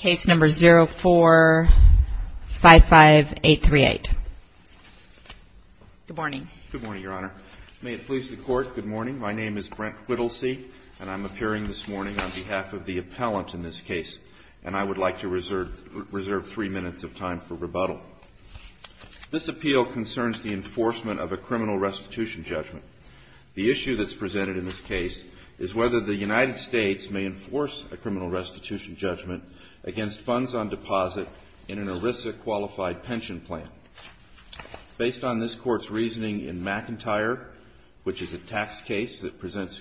Good morning. May it please the court, good morning. My name is Brent Whittlesee and I'm appearing this morning on behalf of the appellant in this case. And I would like to reserve 3 minutes of time for rebuttal. This appeal concerns the enforcement of a criminal restitution judgment. The issue that's presented in this case is whether the United States may enforce a criminal restitution judgment against funds on deposit in an ERISA qualified pension plan. Based on this court's reasoning in McIntyre, which is a tax case that presents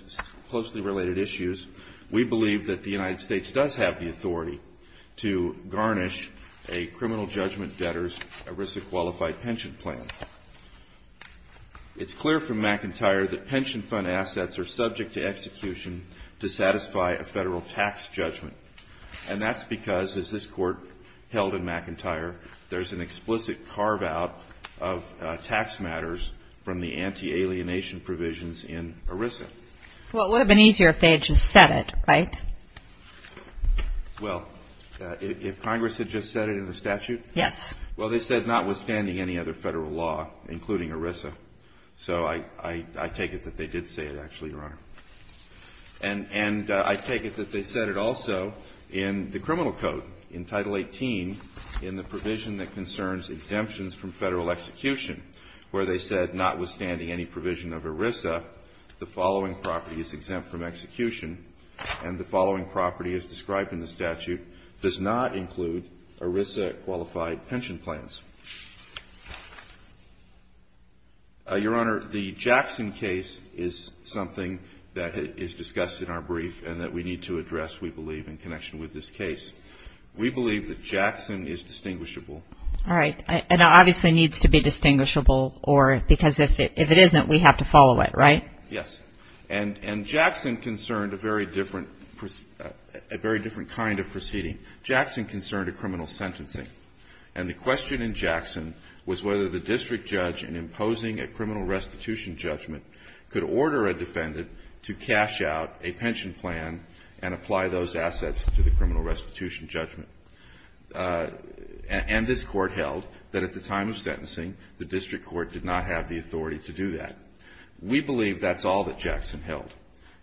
closely related issues, we believe that the United States does have the authority to garnish a criminal judgment debtor's ERISA qualified pension plan. It's clear from McIntyre that And that's because, as this court held in McIntyre, there's an explicit carve-out of tax matters from the anti-alienation provisions in ERISA. Well, it would have been easier if they had just said it, right? Well, if Congress had just said it in the statute? Yes. Well, they said notwithstanding any other federal law, including ERISA. So I take it that they did say it, actually, Your Honor. And I take it that they said it also in the criminal code, in Title 18, in the provision that concerns exemptions from federal execution, where they said, notwithstanding any provision of ERISA, the following property is exempt from execution, and the following property as described in the statute does not include ERISA qualified pension plans. Your Honor, the Jackson case is something that is discussed in our brief and that we need to address, we believe, in connection with this case. We believe that Jackson is distinguishable. All right. And it obviously needs to be distinguishable, because if it isn't, we have to follow it, right? Yes. And Jackson concerned a very different kind of proceeding. Jackson concerned a criminal restitution sentencing. And the question in Jackson was whether the district judge, in imposing a criminal restitution judgment, could order a defendant to cash out a pension plan and apply those assets to the criminal restitution judgment. And this Court held that at the time of sentencing, the district court did not have the authority to do that. We believe that's all that Jackson held.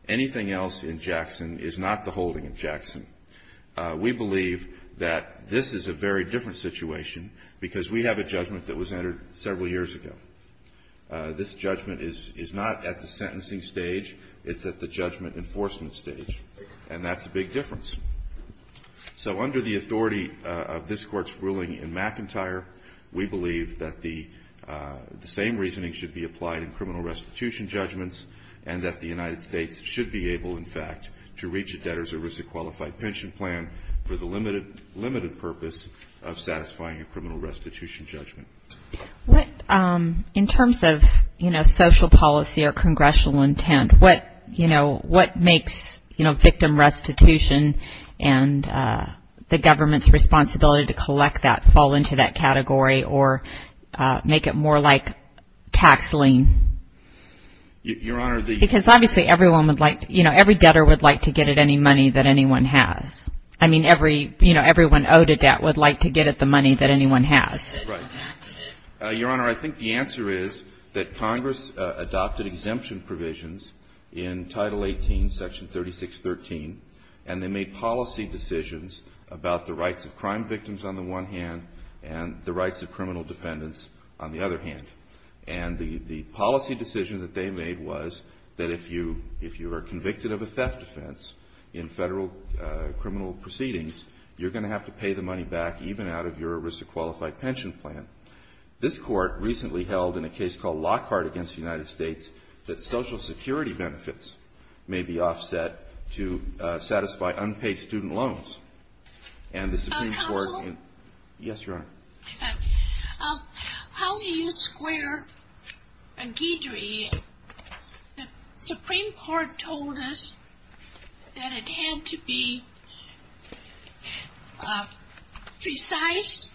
Anything else in Jackson is not the very different situation, because we have a judgment that was entered several years ago. This judgment is not at the sentencing stage. It's at the judgment enforcement stage. And that's a big difference. So under the authority of this Court's ruling in McIntyre, we believe that the same reasoning should be applied in criminal restitution judgments and that the United States should be able, in fact, to reach a debtor's or risk-qualified pension plan for the limited purpose of satisfying a criminal restitution judgment. What, in terms of, you know, social policy or congressional intent, what, you know, what makes, you know, victim restitution and the government's responsibility to collect that fall into that category or make it more like tax lien? Your Honor, the Every debtor would like to get at any money that anyone has. I mean, every, you know, everyone owed a debt would like to get at the money that anyone has. Right. Your Honor, I think the answer is that Congress adopted exemption provisions in Title 18, Section 3613, and they made policy decisions about the rights of crime victims on the one hand and the rights of criminal defendants on the other hand. And the policy decision that they made was that if you are convicted of a theft offense in federal criminal proceedings, you're going to have to pay the money back even out of your risk-qualified pension plan. This Court recently held in a case called Lockhart against the United States that Social Security benefits may be offset to satisfy unpaid student loans. And the Supreme Court Counsel? Yes, Your Honor. How do you square Guidry? The Supreme Court told us that it had to be precise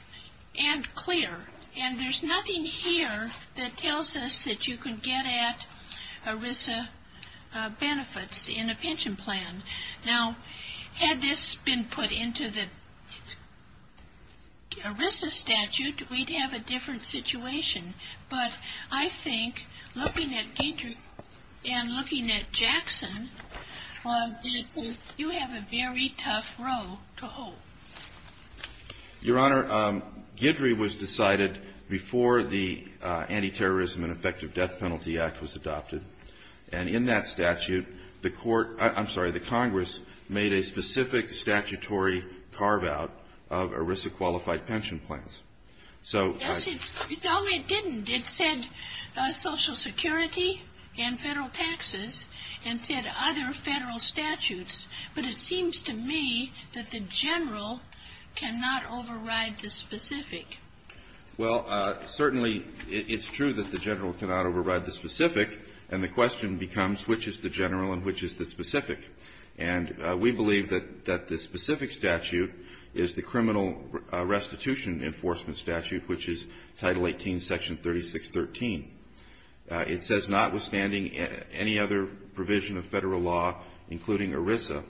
and clear. And there's nothing here that tells us that you can get at ERISA benefits in a pension plan. Now, had this been put into the ERISA statute, we'd have a different situation. But I think looking at Guidry and looking at Jackson, you have a very tough role to hold. Your Honor, Guidry was decided before the Anti-Terrorism and Effective Death Penalty Act was adopted. And in that statute, the Court — I'm sorry, the Congress made a specific statutory carve-out of ERISA-qualified pension plans. Yes, it's — no, it didn't. It said Social Security and federal taxes and said other federal statutes. But it seems to me that the general cannot override the specific. Well, certainly it's true that the general cannot override the specific. And the question becomes which is the general and which is the specific. And we believe that the specific statute is the criminal restitution enforcement statute, which is Title 18, Section 3613. It says notwithstanding any other provision of federal law, including ERISA,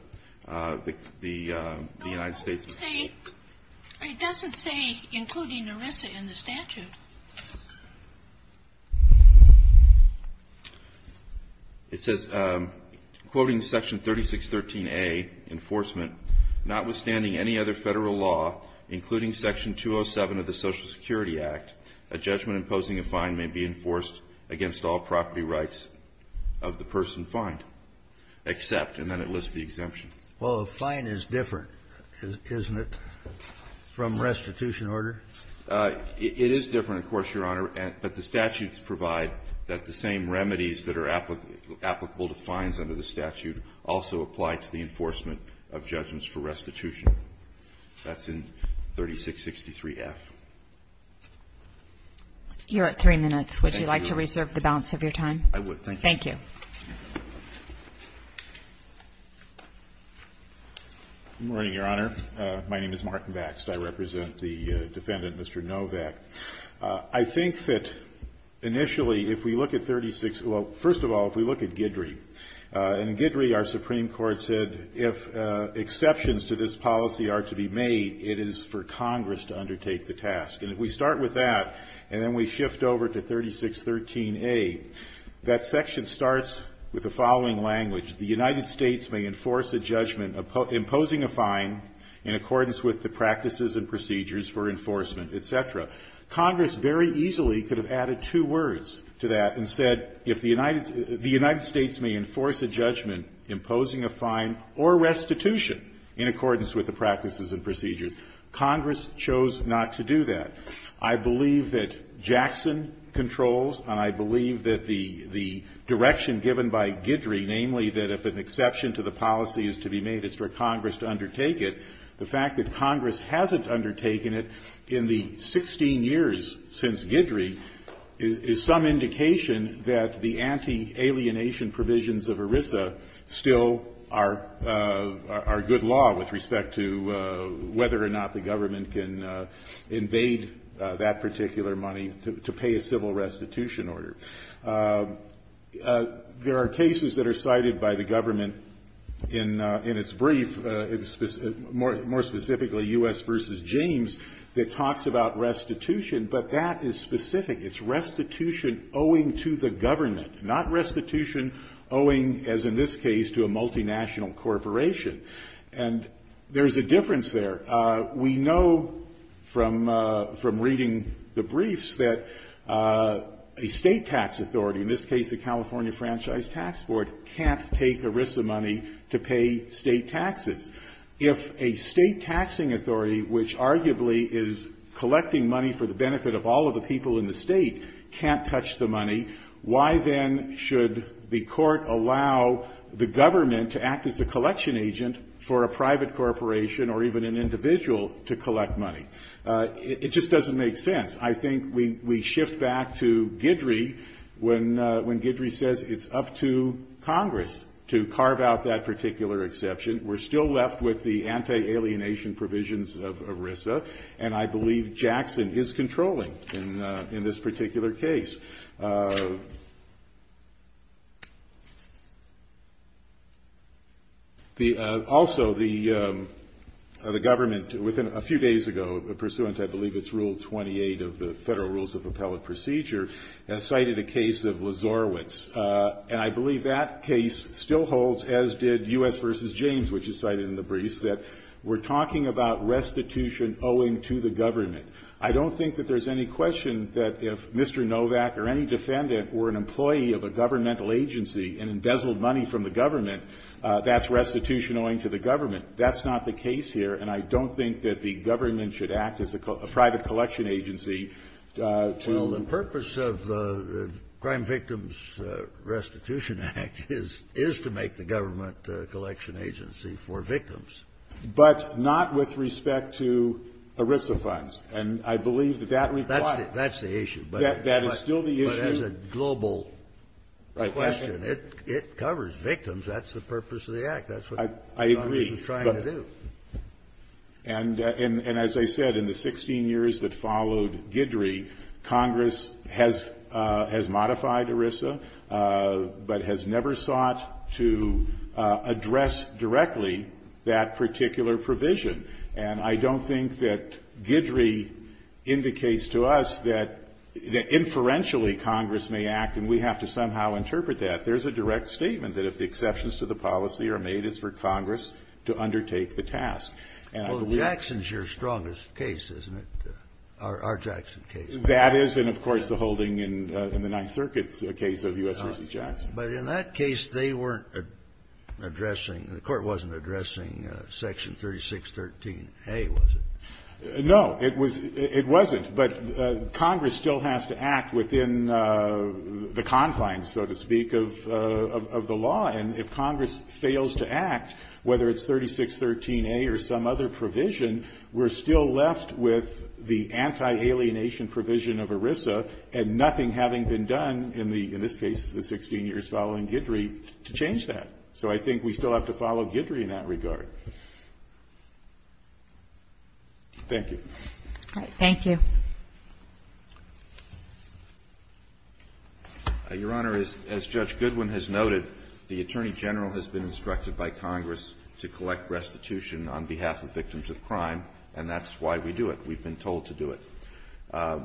the United States — It doesn't say — it doesn't say including ERISA in the statute. It says, quoting Section 3613a, enforcement, notwithstanding any other federal law, including Section 207 of the Social Security Act, a judgment imposing a fine may be enforced against all property rights of the person fined, except — and then it lists the exemption. Well, a fine is different, isn't it, from restitution order? It is different, of course, Your Honor. But the statutes provide that the same remedies that are applicable to fines under the statute also apply to the enforcement of judgments for restitution. That's in 3663F. You're at three minutes. Thank you. Would you like to reserve the balance of your time? I would. Thank you. Good morning, Your Honor. My name is Martin Baxt. I represent the defendant, Mr. Novak. I think that initially, if we look at 36 — well, first of all, if we look at Guidry — and in Guidry, our Supreme Court said if exceptions to this policy are to be made, it is for Congress to undertake the task. And if we start with that and then we shift over to 3613A, that section starts with the following language. The United States may enforce a judgment imposing a fine in accordance with the practices and procedures for enforcement, et cetera. Congress very easily could have added two words to that and said if the United — the United States may enforce a judgment imposing a fine or restitution in accordance with the practices and procedures. Congress chose not to do that. I believe that Jackson controls, and I believe that the direction given by Guidry, namely that if an exception to the policy is to be made, it's for Congress to undertake it, the fact that Congress hasn't undertaken it in the 16 years since Guidry is some indication that the anti-alienation provisions of ERISA still are good law with respect to whether or not the government can invade that particular money to pay a civil restitution order. There are cases that are cited by the government in its brief, more specifically U.S. v. James, that talks about restitution, but that is specific. It's restitution owing to the government, not restitution owing, as in this case, to a multinational corporation. And there's a difference there. We know from reading the briefs that a state tax authority, in this case the California Franchise Tax Board, can't take ERISA money to pay state taxes. If a state taxing authority, which arguably is collecting money for the benefit of all of the people in the state, can't touch the money, why then should the court allow the government to act as a collection agent for a private corporation or even an individual to collect money? It just doesn't make sense. I think we shift back to Guidry when Guidry says it's up to Congress to carve out that particular exception. We're still left with the anti-alienation provisions of ERISA, and I believe Jackson is controlling in this particular case. Also, the government, a few days ago, pursuant, I believe it's Rule 28 of the Federal Rules of Appellate Procedure, cited a case of Lazorowitz, and I believe that case still holds, as did U.S. v. James, which is cited in the briefs, that we're talking about restitution owing to the government. I don't think that there's any question that if Mr. Novak or any defendant were an employee of a governmental agency and embezzled money from the government, that's restitution owing to the government. That's not the case here, and I don't think that the government should act as a private collection agency to do that. Kennedy. Well, the purpose of the Crime Victims Restitution Act is to make the government a collection agency for victims. But not with respect to ERISA funds. And I believe that that requires the issue. That's the issue. That is still the issue. But as a global question, it covers victims. That's the purpose of the Act. That's what Congress is trying to do. I agree. And as I said, in the 16 years that followed Guidry, Congress has modified ERISA, but has never sought to address directly that particular provision. And I don't think that Guidry indicates to us that inferentially Congress may act, and we have to somehow interpret that. There's a direct statement that if exceptions to the policy are made, it's for Congress to undertake the task. And I believe that's the case. Well, Jackson's your strongest case, isn't it, our Jackson case? That is. And, of course, the holding in the Ninth Circuit's a case of U.S. v. Jackson. But in that case, they weren't addressing, the Court wasn't addressing Section 3613A, was it? No. It wasn't. But Congress still has to act within the confines, so to speak, of the law. And if Congress fails to act, whether it's 3613A or some other provision, we're still left with the anti-alienation provision of ERISA and nothing having been done in the, in this case, the 16 years following Guidry to change that. So I think we still have to follow Guidry in that regard. Thank you. All right. Thank you. Your Honor, as Judge Goodwin has noted, the Attorney General has been instructed by Congress to collect restitution on behalf of victims of crime, and that's why we do it. We've been told to do it.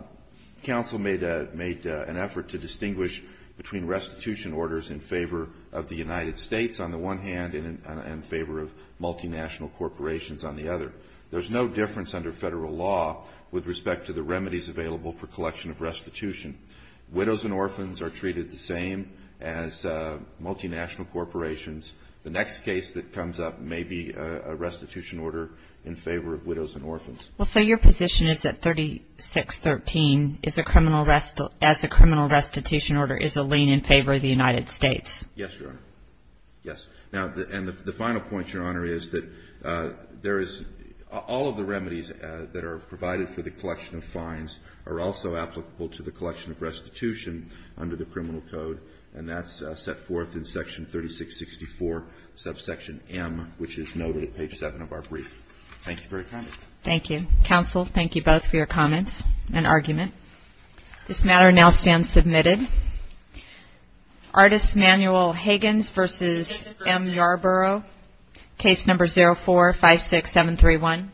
Counsel made an effort to distinguish between restitution orders in favor of the United States on the one hand and in favor of multinational corporations on the other. There's no difference under federal law with respect to the remedies available for collection of restitution. Widows and orphans are treated the same as multinational corporations. The next case that comes up may be a restitution order in favor of widows and orphans. Well, so your position is that 3613 as a criminal restitution order is a lien in favor of the United States? Yes, Your Honor. Yes. Now, and the final point, Your Honor, is that there is, all of the remedies that are provided for the collection of fines are also applicable to the collection of restitution under the criminal code, and that's set forth in section 3664, subsection M, which is noted at page 7 of our brief. Thank you for your time. Thank you. Counsel, thank you both for your comments and argument. This matter now stands submitted. Artist Manuel Higgins v. M. Yarborough, case number 0456731.